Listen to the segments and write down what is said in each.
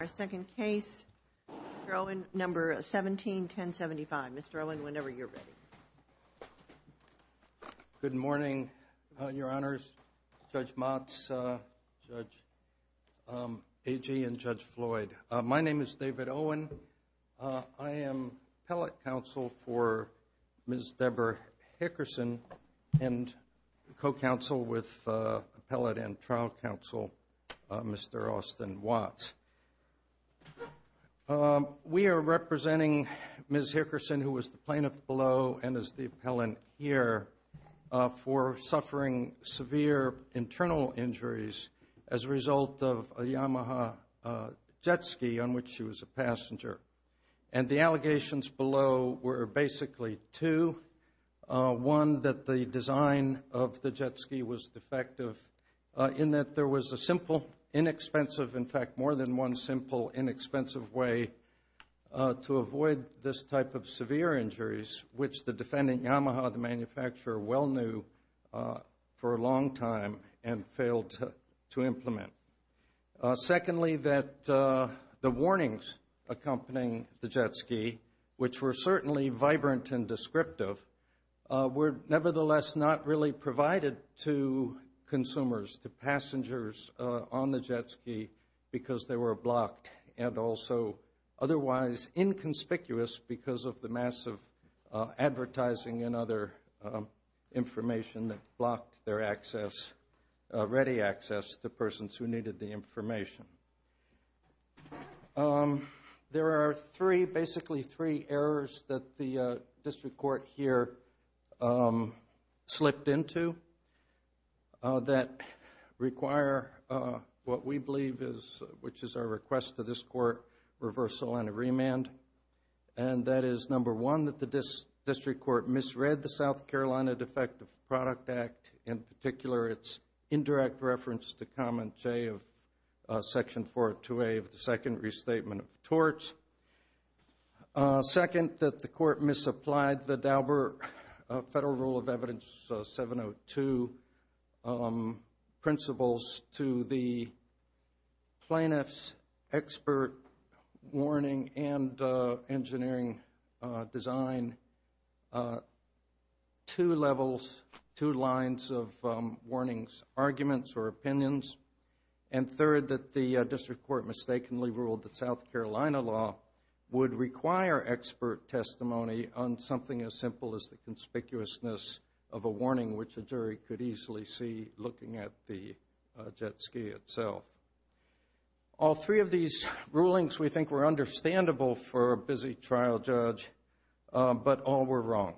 Our second case, Mr. Owen, number 17-1075. Mr. Owen, whenever you're ready. Good morning, Your Honors, Judge Motz, Judge Agee, and Judge Floyd. My name is David Owen. I am appellate counsel for Ms. Deborah Hickerson and co-counsel with appellate and trial counsel Mr. Austin Watts. We are representing Ms. Hickerson, who was the plaintiff below and is the appellant here, for suffering severe internal injuries as a result of a Yamaha jet ski on which she was a passenger. And the allegations below were basically two. One, that the design of the jet ski was defective in that there was a simple, inexpensive, in fact, more than one simple, inexpensive way to avoid this type of severe injuries, which the defendant, Yamaha, the manufacturer, well knew for a long time and failed to implement. Secondly, that the warnings accompanying the jet ski, which were certainly vibrant and descriptive, were nevertheless not really provided to consumers, to passengers on the jet ski because they were blocked and also otherwise inconspicuous because of the massive advertising and other information that blocked their access, ready access, to persons who needed the information. There are three, basically three, errors that the district court here slipped into that require what we believe is, which is our request to this court, reversal and a remand. And that is, number one, that the district court misread the South Carolina Defective Product Act, in particular, its indirect reference to comment J of section 402A of the second restatement of torts. Second, that the court misapplied the Dauber Federal Rule of Evidence 702 principles to the plaintiff's expert warning and engineering design, two levels, two lines of warnings, arguments or opinions. And third, that the district court mistakenly ruled that South Carolina law would require expert testimony on something as simple as the conspicuousness of a warning, which a is the agency itself. All three of these rulings we think were understandable for a busy trial judge, but all were wrong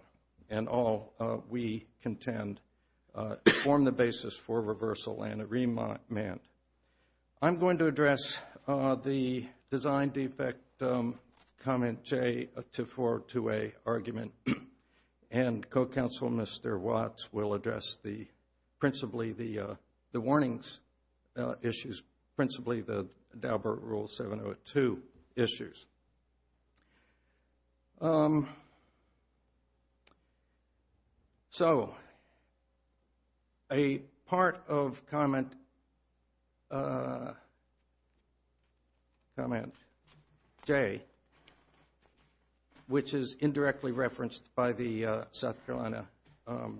and all we contend form the basis for reversal and a remand. I'm going to address the design defect comment J of 402A argument and co-counsel Mr. Watts will address the, principally the warnings issues, principally the Dauber Rule 702 issues. So a part of comment J, which is indirectly referenced by the South Carolina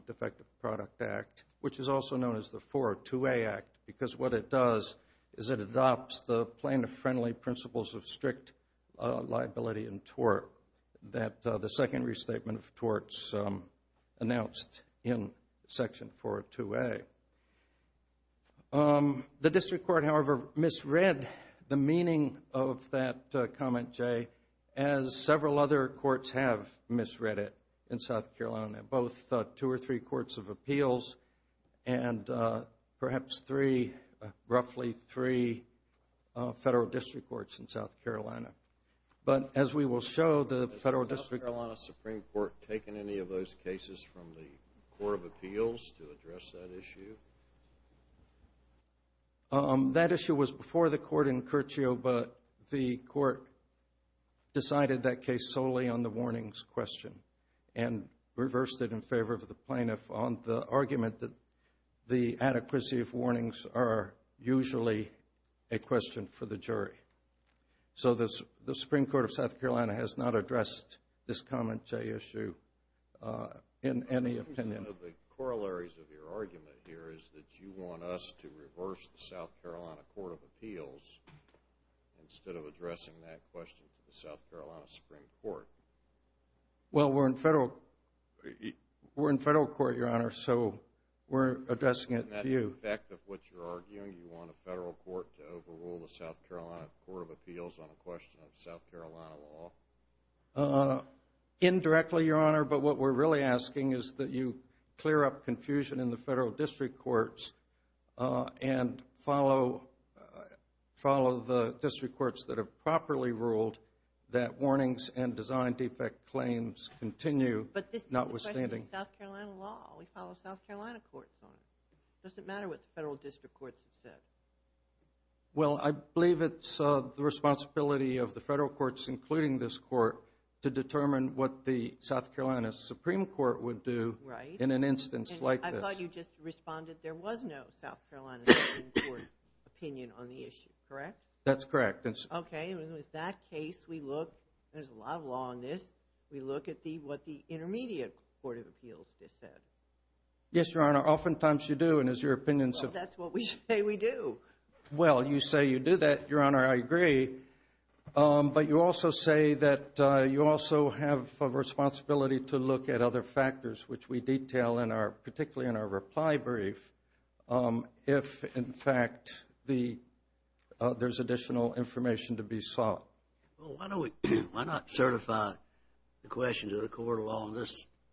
Defective Product Act, which is also known as the 402A Act, because what it does is it adopts the plaintiff-friendly principles of strict liability and tort that the second restatement of torts announced in section 402A. The district court, however, misread the meaning of that comment J as several other courts have misread it in South Carolina, both two or three courts of appeals and perhaps three, roughly three, federal district courts in South Carolina. But as we will show, the federal district court... Has the South Carolina Supreme Court taken any of those cases from the Court of Appeals to address that issue? That issue was before the court in Curchio, but the court decided that case solely on the warnings question and reversed it in favor of the plaintiff on the argument that the adequacy of warnings are usually a question for the jury. So the Supreme Court of South Carolina has not addressed this comment J issue in any opinion. One of the corollaries of your argument here is that you want us to reverse the South Carolina Court of Appeals instead of addressing that question to the South Carolina Supreme Court. Well, we're in federal court, Your Honor, so we're addressing it to you. In that effect of what you're arguing, you want a federal court to overrule the South Carolina Court of Appeals on a question of South Carolina law? Indirectly, Your Honor, but what we're really asking is that you clear up confusion in the court and follow the district courts that have properly ruled that warnings and design defect claims continue notwithstanding. But this is a question of South Carolina law. We follow South Carolina courts on it. It doesn't matter what the federal district courts have said. Well, I believe it's the responsibility of the federal courts, including this court, to determine what the South Carolina Supreme Court would do in an instance like this. I thought you just responded there was no South Carolina Supreme Court opinion on the issue. Correct? That's correct. Okay. With that case, we look, there's a lot of law on this, we look at what the intermediate Court of Appeals just said. Yes, Your Honor. Oftentimes you do, and as your opinion suggests. Well, that's what we say we do. Well, you say you do that. Your Honor, I agree. But you also say that you also have a responsibility to look at other factors, which we detail in our, particularly in our reply brief, if, in fact, there's additional information to be sought. Well, why don't we, why not certify the question to the court along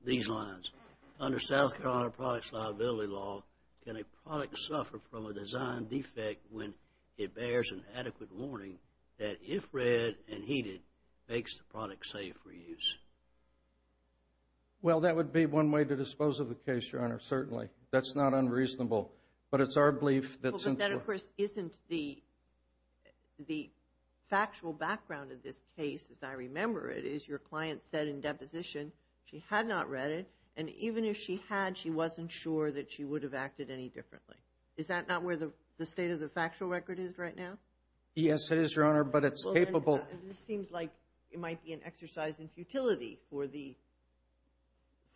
these lines? Under South Carolina Products Liability Law, can a product suffer from a design defect when it bears an adequate warning that if read and heated, makes the product safe for use? Well, that would be one way to dispose of the case, Your Honor, certainly. That's not unreasonable. But it's our belief that since we're... But that, of course, isn't the factual background of this case, as I remember it, is your client said in deposition she had not read it, and even if she had, she wasn't sure that she would have acted any differently. Is that not where the state of the factual record is right now? Yes, it is, Your Honor, but it's capable... This seems like it might be an exercise in futility for the,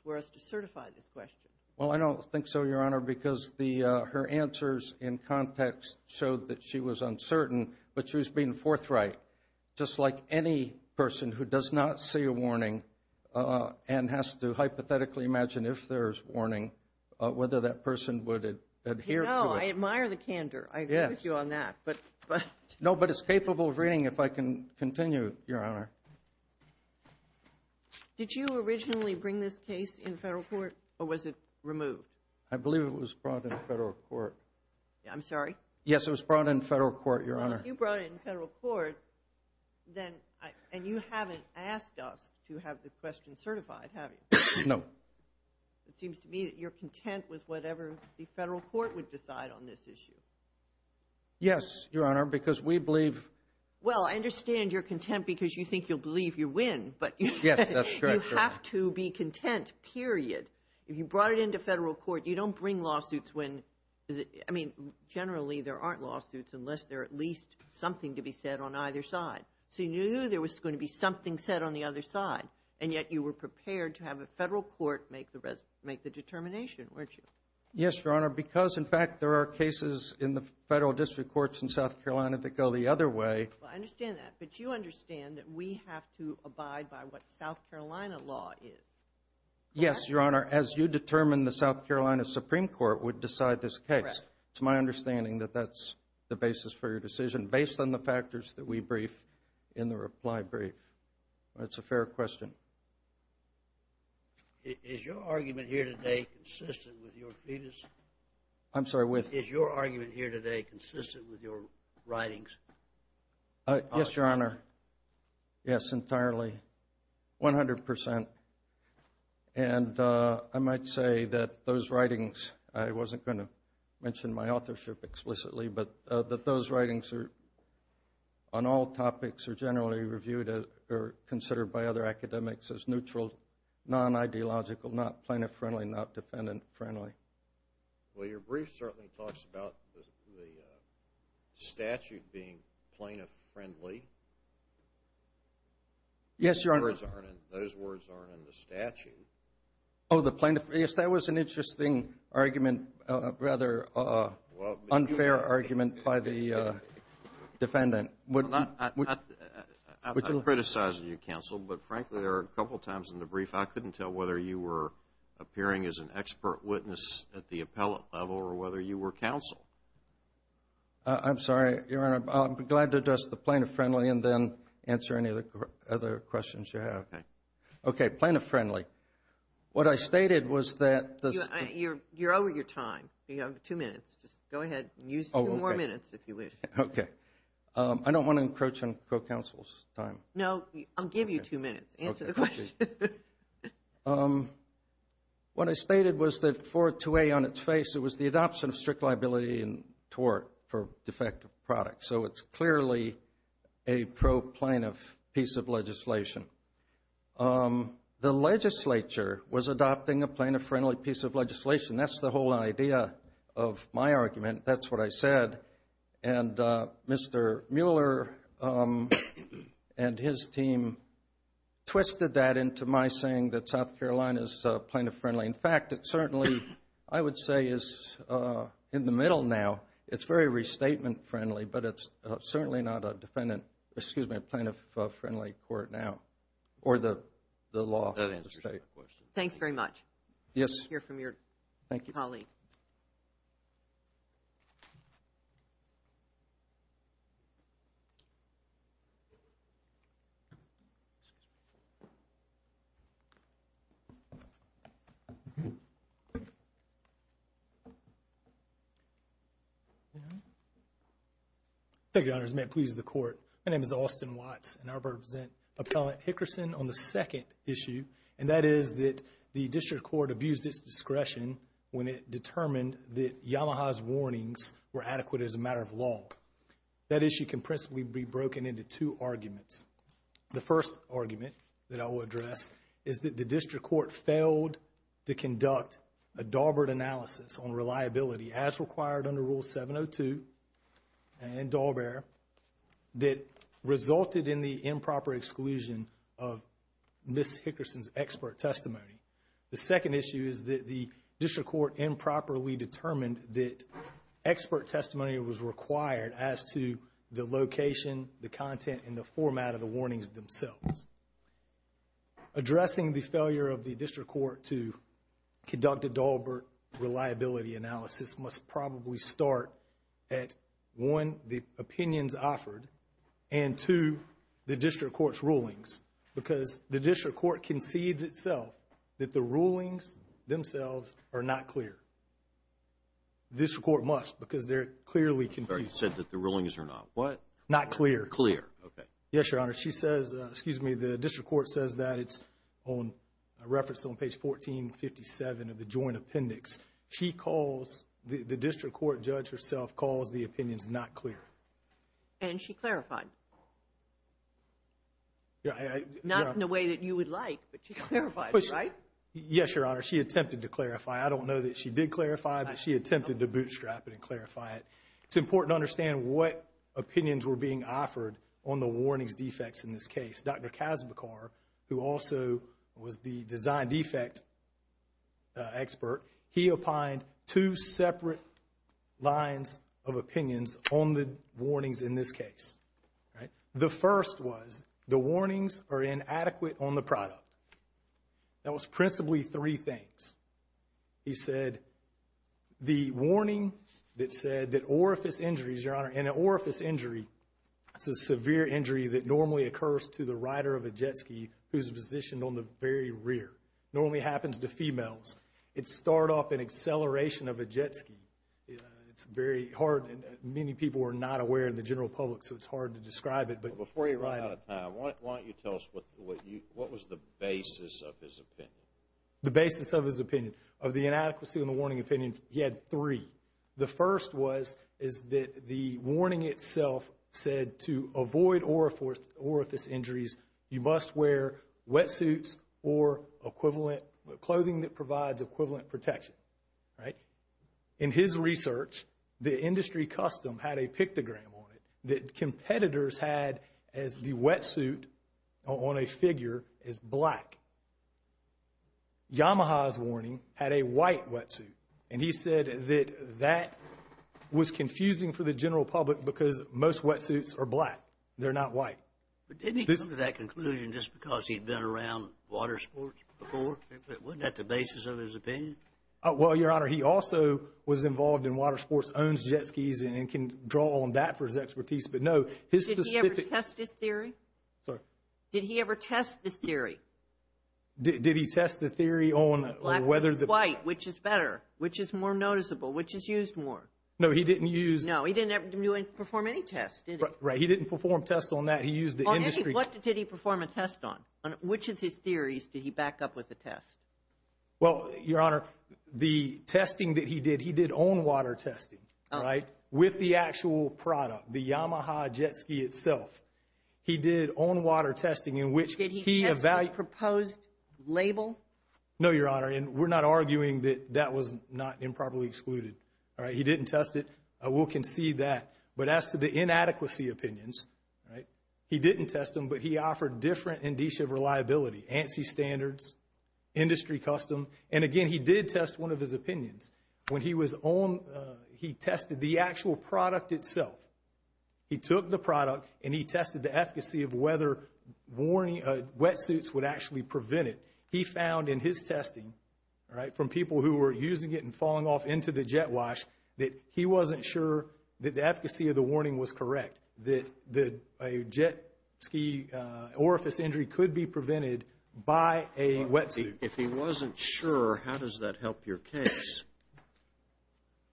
for us to certify this question. Well, I don't think so, Your Honor, because the, her answers in context showed that she was uncertain, but she was being forthright, just like any person who does not see a warning and has to hypothetically imagine if there's warning, whether that person would adhere to it. No, I admire the candor. I agree with you on that, but... No, but it's capable of reading, if I can continue, Your Honor. Did you originally bring this case in federal court, or was it removed? I believe it was brought in federal court. I'm sorry? Yes, it was brought in federal court, Your Honor. You brought it in federal court, then, and you haven't asked us to have the question certified, have you? No. It seems to me that you're content with whatever the federal court would decide on this issue. Yes, Your Honor, because we believe... Well, I understand you're content because you think you'll believe you win, but... Yes, that's correct. You have to be content, period. If you brought it into federal court, you don't bring lawsuits when, I mean, generally there aren't lawsuits unless there's at least something to be said on either side. So you knew there was going to be something said on the other side, and yet you were prepared to have a federal court make the determination, weren't you? Yes, Your Honor, because, in fact, there are cases in the federal district courts in South Carolina that go the other way. Well, I understand that, but you understand that we have to abide by what South Carolina law is, correct? Yes, Your Honor, as you determine the South Carolina Supreme Court would decide this case. Correct. It's my understanding that that's the basis for your decision, based on the factors that we brief in the reply brief. That's a fair question. Is your argument here today consistent with your fetus? I'm sorry, with? Is your argument here today consistent with your writings? Yes, Your Honor. Yes, entirely. One hundred percent. And I might say that those writings, I wasn't going to mention my authorship explicitly, but that those writings on all topics are generally reviewed or considered by other academics as neutral, non-ideological, not plaintiff-friendly, not defendant-friendly. Well, your brief certainly talks about the statute being plaintiff-friendly. Yes, Your Honor. Those words aren't in the statute. Oh, the plaintiff. Yes, that was an interesting argument, rather unfair argument by the defendant. I'm not criticizing you, counsel, but frankly there are a couple times in the brief I couldn't tell whether you were appearing as an expert witness at the appellate level or whether you were counsel. I'm sorry, Your Honor. I'll be glad to address the plaintiff-friendly and then answer any other questions you have. Okay. Plaintiff-friendly. What I stated was that... You're over your time. You have two minutes. Just go ahead and use two more minutes if you wish. Okay. I don't want to encroach on co-counsel's time. No, I'll give you two minutes. Answer the question. What I stated was that 42A on its face, it was the adoption of strict liability and tort for defective products. So it's clearly a pro-plaintiff piece of legislation. The legislature was adopting a plaintiff-friendly piece of legislation. That's the whole idea of my argument. That's what I said. And Mr. Mueller and his team twisted that into my saying that South Carolina is plaintiff-friendly. In fact, it certainly, I would say, is in the middle now. It's very restatement-friendly, but it's certainly not a defendant, excuse me, plaintiff-friendly court now or the law. That answers your question. Thanks very much. I hear from your colleague. Thank you. Thank you, Your Honors. May it please the Court. My name is Austin Watts, and I represent Appellant Hickerson on the second issue, and that is that the district court abused its discretion when it determined that Yamaha's warnings were adequate as a matter of law. That issue can principally be broken into two arguments. The first argument that I will address is that the district court failed to conduct a Dahlberg analysis on reliability as required under Rule 702 and Dahlberg that resulted in the improper exclusion of Ms. Hickerson's expert testimony. The second issue is that the district court improperly determined that expert testimony was required as to the location, the content, and the format of the warnings themselves. Addressing the failure of the district court to conduct a Dahlberg reliability analysis must probably start at, one, the opinions offered and, two, the district court's rulings because the district court concedes itself that the rulings themselves are not clear. The district court must because they're clearly confused. You said that the rulings are not what? Not clear. Clear. Okay. Yes, Your Honor. She says, excuse me, the district court says that. It's referenced on page 1457 of the joint appendix. She calls, the district court judge herself calls the opinions not clear. And she clarified. Not in a way that you would like, but she clarified, right? Yes, Your Honor. She attempted to clarify. I don't know that she did clarify, but she attempted to bootstrap it and clarify it. It's important to understand what opinions were being offered on the warnings defects in this case. Dr. Kazbekar, who also was the design defect expert, he opined two separate lines of opinions on the warnings in this case. The first was the warnings are inadequate on the product. That was principally three things. He said the warning that said that orifice injuries, Your Honor, and an orifice injury is a severe injury that normally occurs to the rider of a jet ski who's positioned on the very rear. It normally happens to females. It's start off an acceleration of a jet ski. It's very hard. Many people are not aware in the general public, so it's hard to describe it. But before you run out of time, why don't you tell us what was the basis of his opinion? The basis of his opinion. Of the inadequacy on the warning opinion, he had three. The first was that the warning itself said to avoid orifice injuries, you must wear wetsuits or clothing that provides equivalent protection. In his research, the industry custom had a pictogram on it that competitors had as the wetsuit on a figure is black. Yamaha's warning had a white wetsuit. And he said that that was confusing for the general public because most wetsuits are black. They're not white. But didn't he come to that conclusion just because he'd been around water sports before? Wasn't that the basis of his opinion? Well, Your Honor, he also was involved in water sports, owns jet skis, and can draw on that for his expertise. But, no, his specific – Did he ever test his theory? Sorry? Did he ever test his theory? Did he test the theory on whether the – Black versus white. Which is better? Which is more noticeable? Which is used more? No, he didn't use – No, he didn't perform any tests, did he? Right. He didn't perform tests on that. He used the industry – What did he perform a test on? Which of his theories did he back up with a test? Well, Your Honor, the testing that he did, he did own water testing, right, with the actual product, the Yamaha jet ski itself. He did own water testing in which he – Did he test the proposed label? No, Your Honor, and we're not arguing that that was not improperly excluded, all right? He didn't test it. We'll concede that. But as to the inadequacy opinions, right, he didn't test them, but he offered different indicia of reliability, ANSI standards, industry custom. And, again, he did test one of his opinions. When he was on – he tested the actual product itself. He took the product and he tested the efficacy of whether wetsuits would actually prevent it. He found in his testing, right, from people who were using it and falling off into the jet wash, that he wasn't sure that the efficacy of the warning was correct, that a jet ski orifice injury could be prevented by a wetsuit. If he wasn't sure, how does that help your case?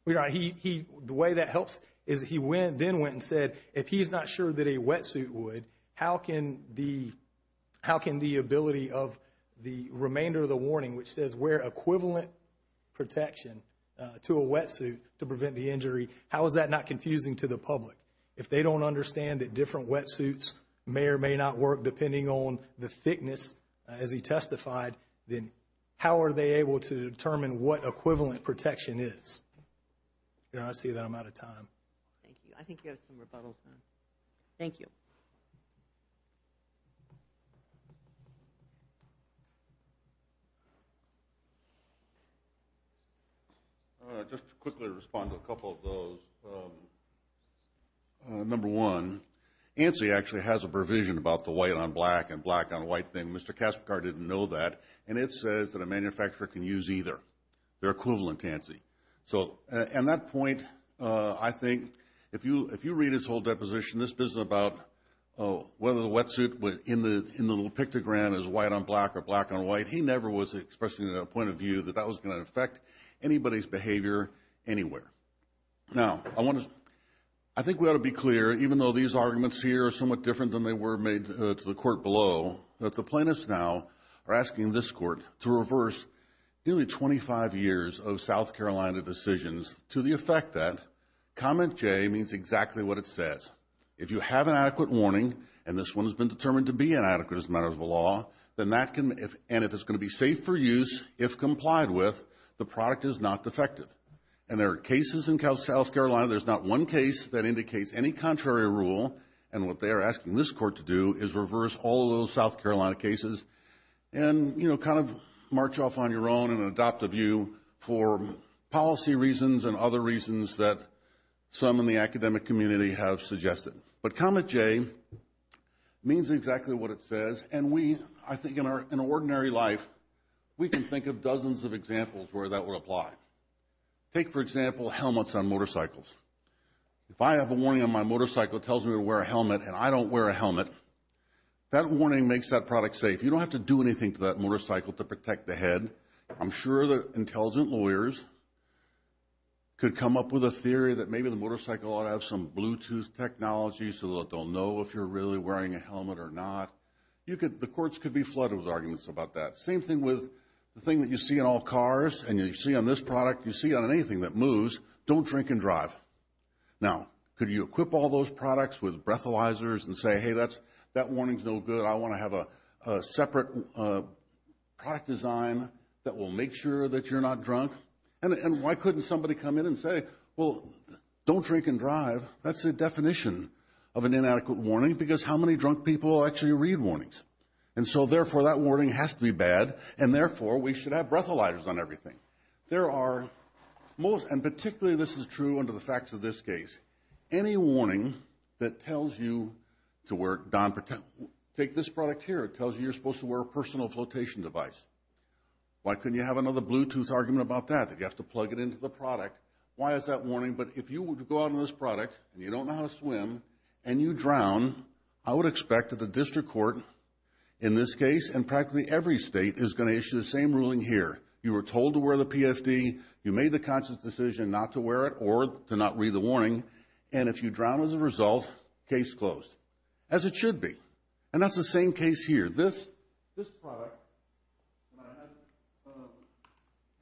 Your Honor, he – the way that helps is he went – then went and said if he's not sure that a wetsuit would, how can the ability of the remainder of the warning, which says wear equivalent protection to a wetsuit to prevent the injury, how is that not confusing to the public? If they don't understand that different wetsuits may or may not work depending on the thickness, as he testified, then how are they able to determine what equivalent protection is? Your Honor, I see that I'm out of time. Thank you. I think you have some rebuttals now. Thank you. Just to quickly respond to a couple of those. Number one, ANSI actually has a provision about the white on black and black on white thing. Mr. Kasperkar didn't know that, and it says that a manufacturer can use either. They're equivalent to ANSI. So at that point, I think if you read his whole deposition, this is about whether the wetsuit in the little pictogram is white on black or black on white. He never was expressing a point of view that that was going to affect anybody's behavior anywhere. Now, I want to – I think we ought to be clear, even though these arguments here are somewhat different than they were made to the to the effect that comment J means exactly what it says. If you have an adequate warning, and this one has been determined to be inadequate as a matter of the law, and if it's going to be safe for use, if complied with, the product is not defective. And there are cases in South Carolina, there's not one case that indicates any contrary rule, and what they are asking this Court to do is reverse all those South Carolina cases and, you know, kind of march off on your own and adopt a view for policy reasons and other reasons that some in the academic community have suggested. But comment J means exactly what it says, and we, I think, in our ordinary life, we can think of dozens of examples where that would apply. Take, for example, helmets on motorcycles. If I have a warning on my motorcycle that tells me to wear a helmet and I don't wear a helmet, that warning makes that product safe. You don't have to do anything to that motorcycle to protect the head. I'm sure that intelligent lawyers could come up with a theory that maybe the motorcycle ought to have some Bluetooth technology so that they'll know if you're really wearing a helmet or not. The courts could be flooded with arguments about that. Same thing with the thing that you see in all cars, and you see on this product, you see on anything that moves, don't drink and drive. Now, could you equip all those products with breathalyzers and say, hey, that warning's no good. I want to have a separate product design that will make sure that you're not drunk. And why couldn't somebody come in and say, well, don't drink and drive. That's the definition of an inadequate warning because how many drunk people actually read warnings? And so, therefore, that warning has to be bad, and, therefore, we should have breathalyzers on everything. There are most, and particularly this is true under the facts of this case, any warning that tells you to wear, take this product here, it tells you you're supposed to wear a personal flotation device. Why couldn't you have another Bluetooth argument about that? You'd have to plug it into the product. Why is that warning? But if you were to go out on this product, and you don't know how to swim, and you drown, I would expect that the district court in this case and practically every state is going to issue the same ruling here. You were told to wear the PFD. You made the conscious decision not to wear it or to not read the warning. And if you drown as a result, case closed, as it should be. And that's the same case here. This product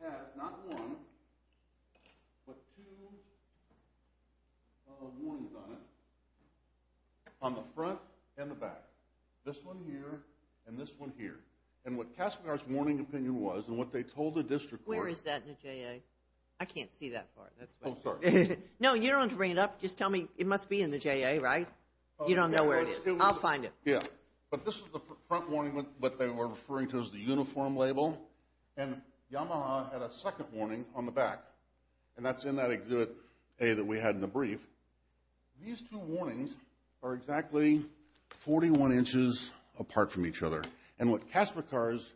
has not one, but two warnings on it on the front and the back, this one here and this one here. And what CASPER's warning opinion was and what they told the district court. Where is that in the JA? I can't see that far. Oh, sorry. No, you don't have to bring it up. Just tell me. It must be in the JA, right? You don't know where it is. I'll find it. Yeah. But this is the front warning that they were referring to as the uniform label. And Yamaha had a second warning on the back, and that's in that exhibit A that we had in the brief. These two warnings are exactly 41 inches apart from each other. And what CASPER cars,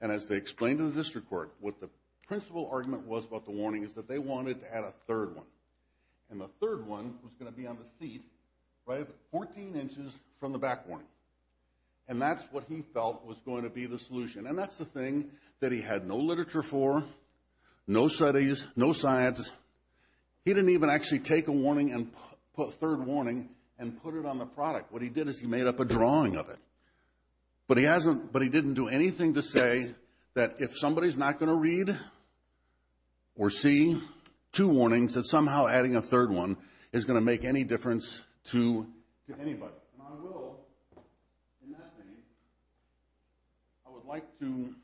and as they explained to the district court, what the principal argument was about the warning is that they wanted to add a third one. And the third one was going to be on the seat, right, 14 inches from the back warning. And that's what he felt was going to be the solution. And that's the thing that he had no literature for, no studies, no science. He didn't even actually take a third warning and put it on the product. What he did is he made up a drawing of it. But he didn't do anything to say that if somebody is not going to read or see two warnings that somehow adding a third one is going to make any difference to anybody. And I will, in that case, I would like to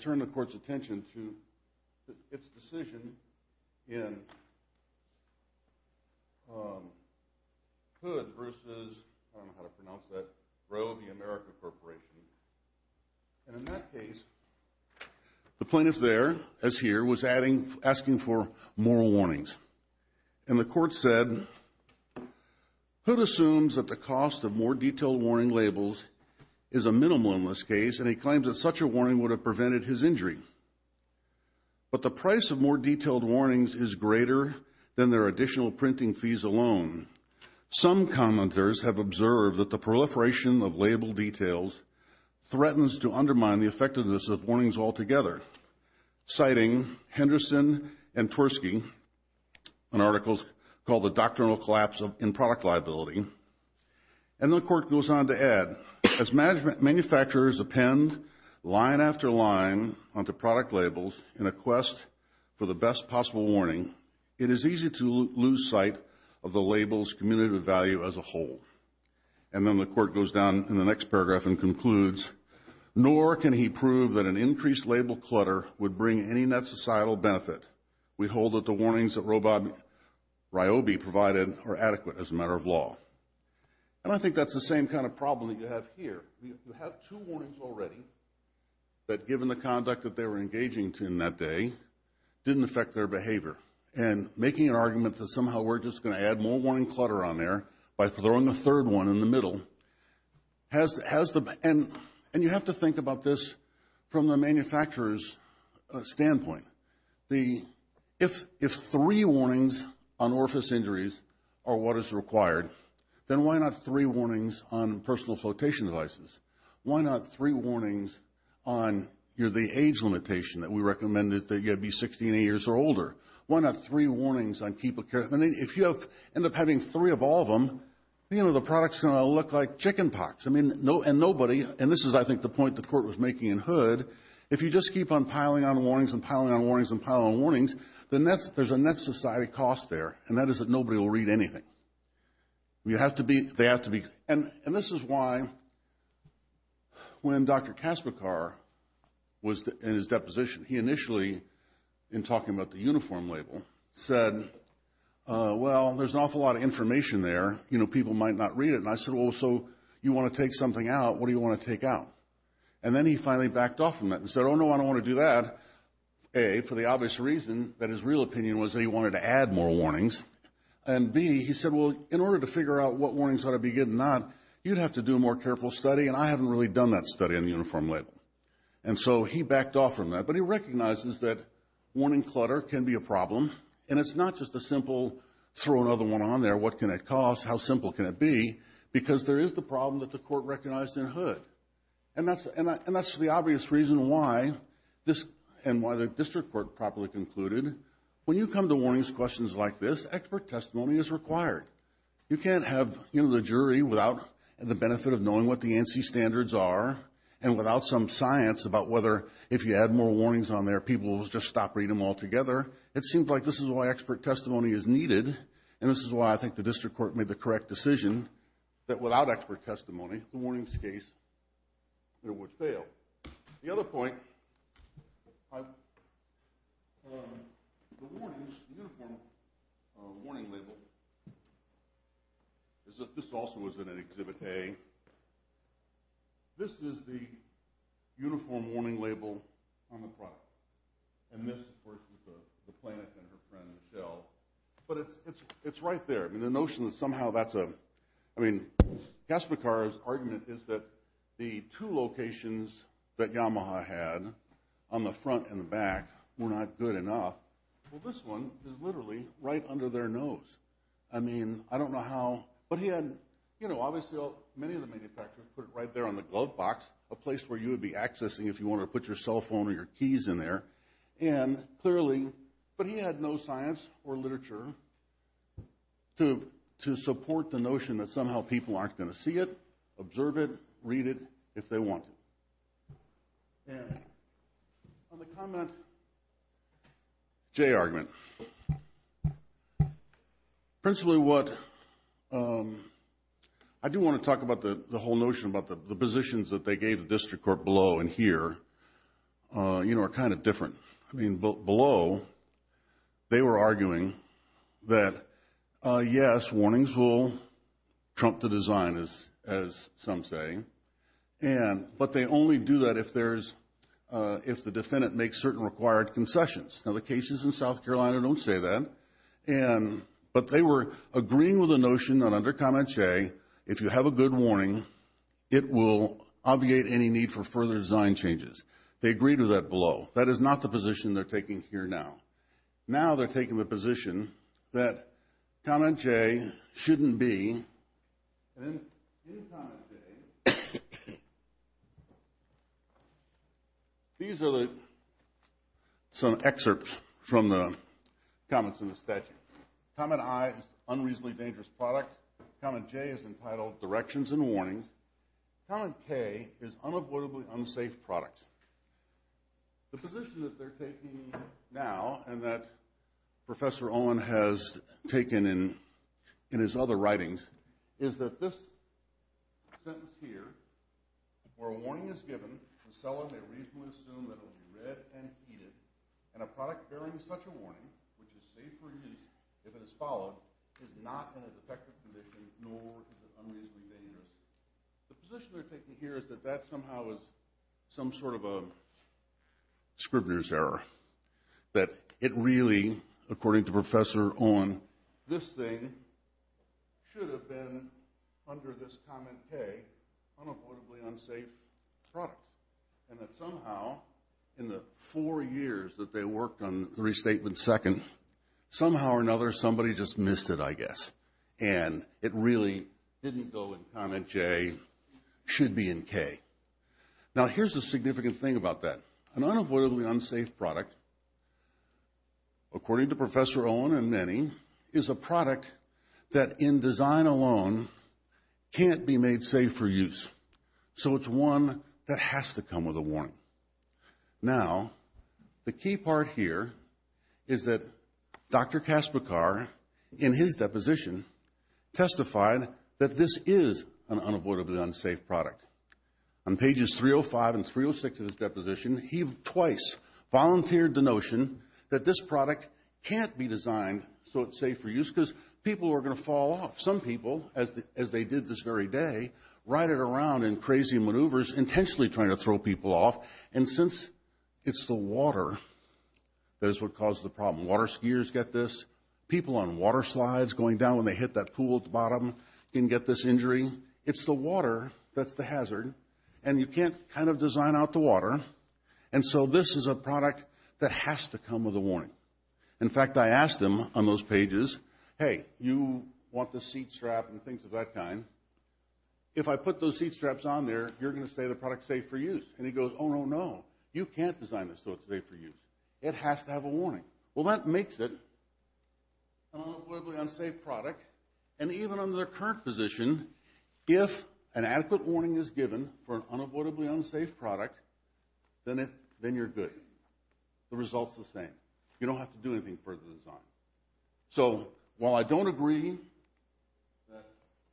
turn the court's attention to its decision in Hood versus, I don't know how to pronounce that, Roe v. America Corporation. And in that case, the plaintiff there, as here, was asking for more warnings. And the court said, Hood assumes that the cost of more detailed warning labels is a minimum in this case, and he claims that such a warning would have prevented his injury. But the price of more detailed warnings is greater than their additional printing fees alone. Some commenters have observed that the proliferation of label details threatens to undermine the effectiveness of warnings altogether, citing Henderson and Tversky in articles called The Doctrinal Collapse in Product Liability. And the court goes on to add, as manufacturers append line after line onto product labels in a quest for the best possible warning, it is easy to lose sight of the label's cumulative value as a whole. And then the court goes down in the next paragraph and concludes, Nor can he prove that an increased label clutter would bring any net societal benefit. We hold that the warnings that Roe v. Ryobi provided are adequate as a matter of law. And I think that's the same kind of problem that you have here. You have two warnings already that, given the conduct that they were engaging in that day, didn't affect their behavior. And making an argument that somehow we're just going to add more warning clutter on there by throwing a third one in the middle. And you have to think about this from the manufacturer's standpoint. If three warnings on orifice injuries are what is required, then why not three warnings on personal flotation devices? Why not three warnings on the age limitation that we recommended that you have to be 60 and 80 years or older? Why not three warnings on keep a care? I mean, if you end up having three of all of them, you know, the product's going to look like chicken pox. I mean, and nobody, and this is, I think, the point the court was making in Hood, if you just keep on piling on warnings and piling on warnings and piling on warnings, then there's a net society cost there, and that is that nobody will read anything. You have to be, they have to be. And this is why, when Dr. Kasparkar was in his deposition, he initially, in talking about the Uniform Label, said, well, there's an awful lot of information there. You know, people might not read it. And I said, well, so you want to take something out. What do you want to take out? And then he finally backed off from that and said, oh, no, I don't want to do that, A, for the obvious reason that his real opinion was that he wanted to add more warnings, and B, he said, well, in order to figure out what warnings ought to be good and not, you'd have to do a more careful study, and I haven't really done that study on the Uniform Label. And so he backed off from that, but he recognizes that warning clutter can be a problem, and it's not just a simple throw another one on there. What can it cost? How simple can it be? Because there is the problem that the court recognized in Hood, and that's the obvious reason why this and why the district court properly concluded. When you come to warnings questions like this, expert testimony is required. You can't have, you know, the jury without the benefit of knowing what the ANSI standards are and without some science about whether if you add more warnings on there, people will just stop reading them altogether. It seems like this is why expert testimony is needed, and this is why I think the district court made the correct decision that without expert testimony, the warnings case would fail. The other point, the warnings, the Uniform Warning Label, this also was in Exhibit A. This is the Uniform Warning Label on the product. And this, of course, was the plaintiff and her friend Michelle. But it's right there. I mean, the notion that somehow that's a, I mean, Kasparkar's argument is that the two locations that Yamaha had on the front and the back were not good enough. Well, this one is literally right under their nose. I mean, I don't know how, but he had, you know, obviously many of the manufacturers put it right there on the glove box, a place where you would be accessing if you wanted to put your cell phone or your keys in there. And clearly, but he had no science or literature to support the notion that somehow people aren't going to see it, observe it, read it if they want it. On the comment, Jay argument, principally what, I do want to talk about the whole notion about the positions that they gave the district court below and here, you know, are kind of different. I mean, below, they were arguing that, yes, warnings will trump the design, as some say. And, but they only do that if there's, if the defendant makes certain required concessions. Now, the cases in South Carolina don't say that. And, but they were agreeing with the notion that under comment, Jay, if you have a good warning, it will obviate any need for further design changes. They agreed to that below. That is not the position they're taking here now. Now they're taking the position that comment, Jay, shouldn't be. And in comment, Jay, these are the, some excerpts from the comments in the statute. Comment I is unreasonably dangerous products. Comment J is entitled directions and warnings. Comment K is unavoidably unsafe products. The position that they're taking now, and that Professor Owen has taken in his other writings, is that this sentence here, where a warning is given, the seller may reasonably assume that it will be read and heeded, and a product bearing such a warning, which is safe for use if it is followed, is not in a defective condition, nor is it unreasonably dangerous. The position they're taking here is that that somehow is some sort of a scrivener's error. That it really, according to Professor Owen, this thing should have been under this comment, K, unavoidably unsafe products. And that somehow in the four years that they worked on the restatement second, somehow or another somebody just missed it, I guess. And it really didn't go in comment J, should be in K. Now here's the significant thing about that. An unavoidably unsafe product, according to Professor Owen and many, is a product that in design alone can't be made safe for use. So it's one that has to come with a warning. Now, the key part here is that Dr. Kasperkar, in his deposition, testified that this is an unavoidably unsafe product. On pages 305 and 306 of his deposition, he twice volunteered the notion that this product can't be designed so it's safe for use because people are going to fall off. Some people, as they did this very day, ride it around in crazy maneuvers, intentionally trying to throw people off. And since it's the water that is what causes the problem, water skiers get this, people on water slides going down when they hit that pool at the bottom can get this injury. It's the water that's the hazard, and you can't kind of design out the water. And so this is a product that has to come with a warning. In fact, I asked him on those pages, hey, you want the seat strap and things of that kind. If I put those seat straps on there, you're going to say the product's safe for use. And he goes, oh, no, no, you can't design this so it's safe for use. It has to have a warning. Well, that makes it an unavoidably unsafe product. And even under the current position, if an adequate warning is given for an unavoidably unsafe product, then you're good. The result's the same. You don't have to do anything for the design. So while I don't agree that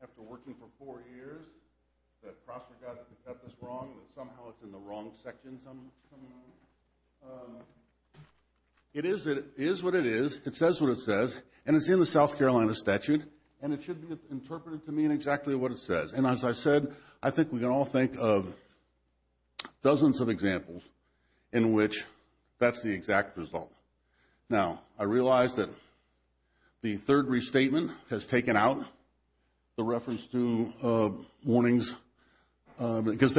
after working for four years that CrossFit got this wrong, that somehow it's in the wrong section somehow, it is what it is. It says what it says. And it's in the South Carolina statute, and it should be interpreted to mean exactly what it says. And as I said, I think we can all think of dozens of examples in which that's the exact result. Now, I realize that the third restatement has taken out the reference to warnings because,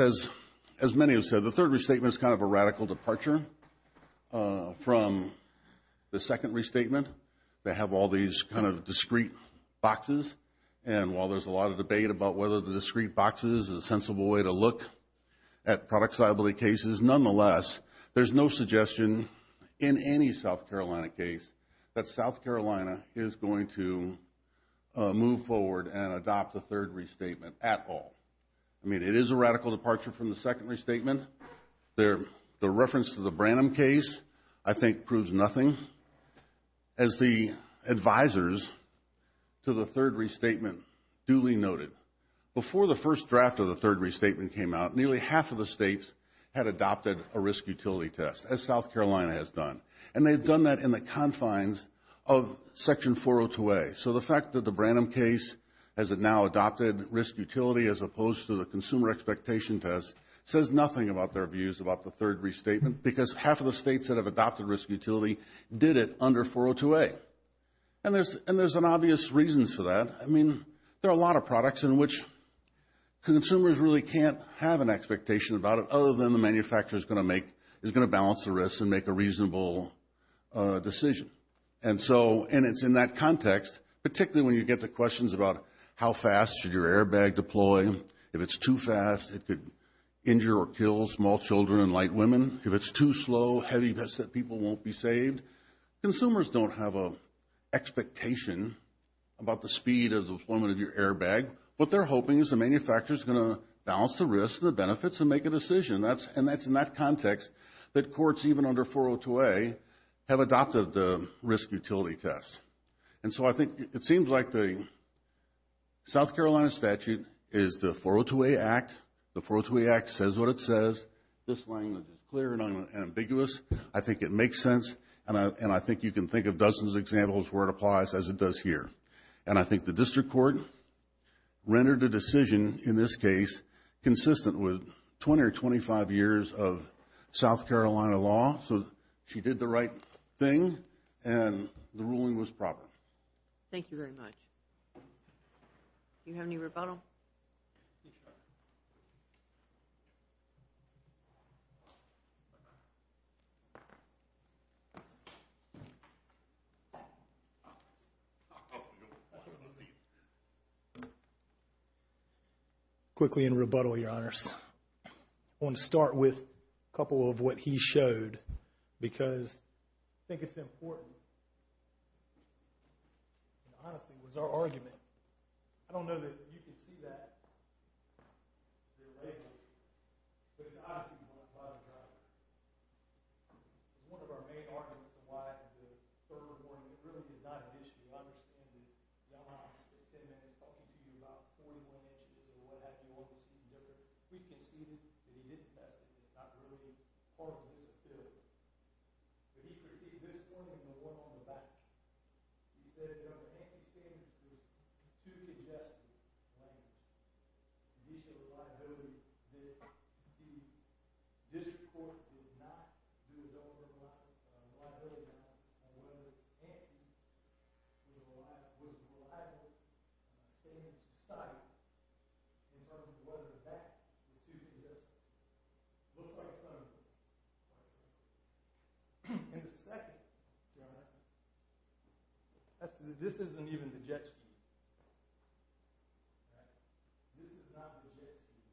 as many have said, the third restatement is kind of a radical departure from the second restatement. They have all these kind of discrete boxes. And while there's a lot of debate about whether the discrete boxes is a sensible way to look at product reliability cases, nonetheless, there's no suggestion in any South Carolina case that South Carolina is going to move forward and adopt the third restatement at all. I mean, it is a radical departure from the second restatement. The reference to the Branham case, I think, proves nothing. As the advisors to the third restatement duly noted, before the first draft of the third restatement came out, nearly half of the states had adopted a risk utility test, as South Carolina has done. And they've done that in the confines of Section 402A. So the fact that the Branham case has now adopted risk utility as opposed to the consumer expectation test says nothing about their views about the third restatement because half of the states that have adopted risk utility did it under 402A. And there's obvious reasons for that. I mean, there are a lot of products in which consumers really can't have an expectation about it other than the manufacturer is going to balance the risks and make a reasonable decision. And it's in that context, particularly when you get to questions about how fast should your airbag deploy. If it's too fast, it could injure or kill small children and light women. If it's too slow, heavy vests that people won't be saved. Consumers don't have an expectation about the speed of the deployment of your airbag. What they're hoping is the manufacturer is going to balance the risks and the benefits and make a decision. And that's in that context that courts, even under 402A, have adopted the risk utility test. And so I think it seems like the South Carolina statute is the 402A Act. The 402A Act says what it says. This language is clear and ambiguous. I think it makes sense, and I think you can think of dozens of examples where it applies as it does here. And I think the district court rendered a decision in this case consistent with 20 or 25 years of South Carolina law. So she did the right thing, and the ruling was proper. Thank you very much. Do you have any rebuttal? Yes, Your Honor. Quickly in rebuttal, Your Honors. I want to start with a couple of what he showed because I think it's important. In all honesty, it was our argument. I don't know that you can see that here lately, but in all honesty, we want to try to drive that. One of our main arguments for why the third one really is not an issue, I understand that Your Honor, is that they've been talking to you about 41 inches or what have you on the speedometer. We conceded that he didn't have it. It's not really part of his ability. But he critiqued this one as the one on the back. He said, Your Honor, Antti's standards were too congested. The issue of reliability. The district court did not do its own reliability analysis on whether Antti was reliable in a standard society in terms of whether that was too congested. It looked like it kind of was. In the second, Your Honor, this isn't even the JET scheme. This is not the JET scheme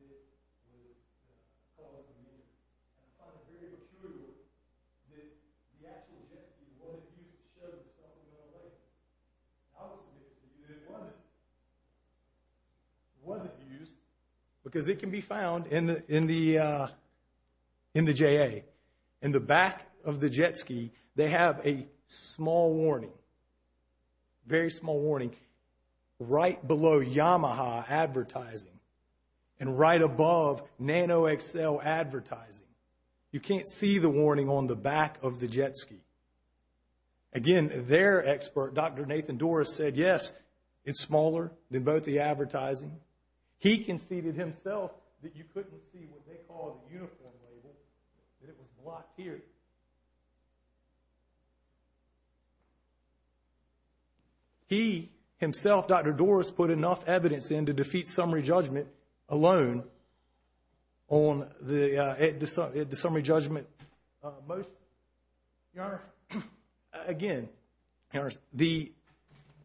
that was called up in the end. I find it very peculiar that the actual JET scheme was used to show that something went away. I would submit to you that it wasn't. It wasn't used because it can be found in the JA. In the back of the JET scheme, they have a small warning, very small warning, right below Yamaha advertising and right above Nano XL advertising. You can't see the warning on the back of the JET scheme. Again, their expert, Dr. Nathan Doris, said yes, it's smaller than both the advertising. He conceded himself that you couldn't see what they call the uniform label, that it was blocked here. He himself, Dr. Doris, put enough evidence in to defeat summary judgment alone on the summary judgment motion. Your Honor, again, the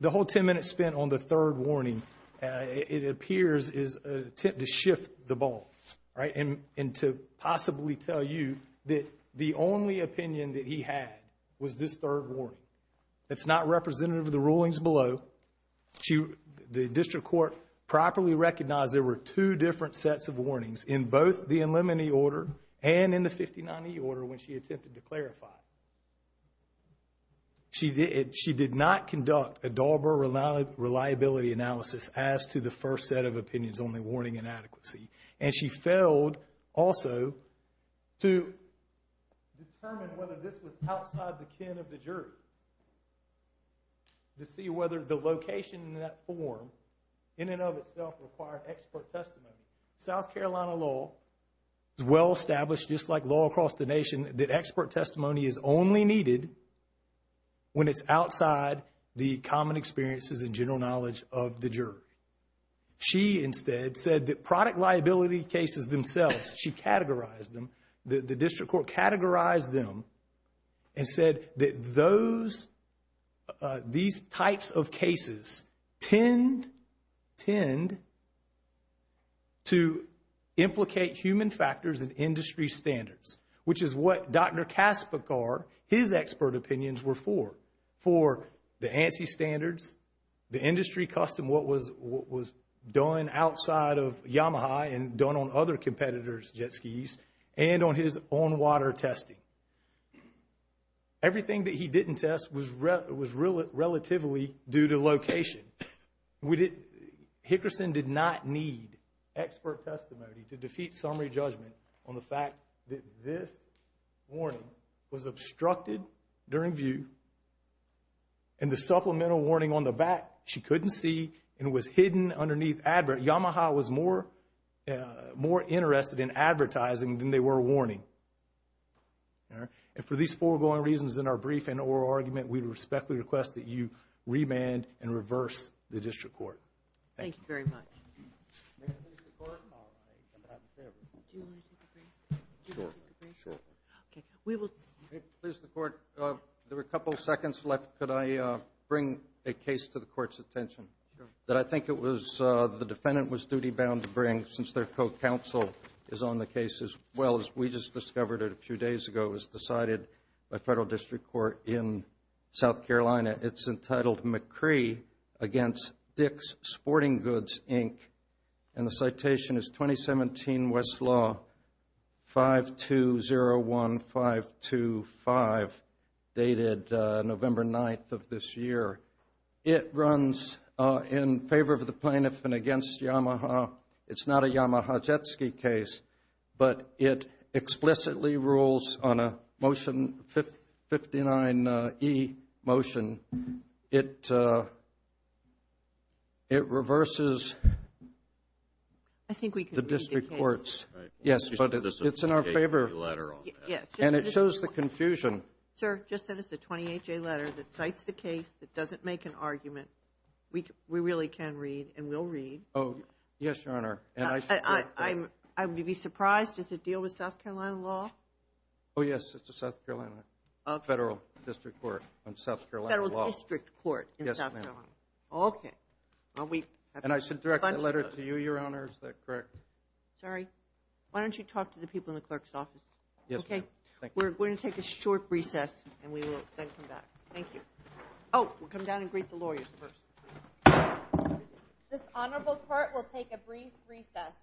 whole 10 minutes spent on the third warning, it appears is an attempt to shift the ball, right? And to possibly tell you that the only opinion that he had was this third warning. It's not representative of the rulings below. The district court properly recognized there were two different sets of warnings in both the in limine order and in the 59E order when she attempted to clarify. She did not conduct a Dauber reliability analysis as to the first set of opinions, only warning inadequacy. And she failed also to determine whether this was outside the kin of the jury. To see whether the location in that form, in and of itself, required expert testimony. South Carolina law is well established, just like law across the nation, that expert testimony is only needed when it's outside the common experiences and general knowledge of the jury. She instead said that product liability cases themselves, she categorized them, the district court categorized them and said that these types of cases tend to implicate human factors and industry standards, which is what Dr. Kaspekar, his expert opinions were for. For the ANSI standards, the industry custom, what was done outside of Yamaha and done on other competitors' jet skis and on his own water testing. Everything that he didn't test was relatively due to location. Hickerson did not need expert testimony to defeat summary judgment on the fact that this warning was obstructed during view and the supplemental warning on the back she couldn't see and was hidden underneath advert. Yamaha was more interested in advertising than they were warning. And for these foregoing reasons in our brief and oral argument, we respectfully request that you remand and reverse the district court. Thank you very much. May it please the court, there are a couple of seconds left, could I bring a case to the court's attention? Sure. That I think it was the defendant was duty bound to bring since their co-counsel is on the case as well. As we just discovered it a few days ago, it was decided by federal district court in South Carolina. It's entitled McCree against Dick's Sporting Goods, Inc. And the citation is 2017 Westlaw 5201525, dated November 9th of this year. It runs in favor of the plaintiff and against Yamaha. It's not a Yamaha Jetsky case, but it explicitly rules on a motion 59E motion. It reverses the district courts. Yes, but it's in our favor. And it shows the confusion. Sir, just send us a 28-J letter that cites the case, that doesn't make an argument. We really can read and we'll read. Oh, yes, Your Honor. I would be surprised if it deals with South Carolina law. Oh, yes, it's a South Carolina federal district court on South Carolina law. Federal district court in South Carolina. Yes, ma'am. Okay. And I should direct the letter to you, Your Honor, is that correct? Sorry. Why don't you talk to the people in the clerk's office? Yes, ma'am. We're going to take a short recess and we will then come back. Thank you. Oh, we'll come down and greet the lawyers first. This honorable court will take a brief recess.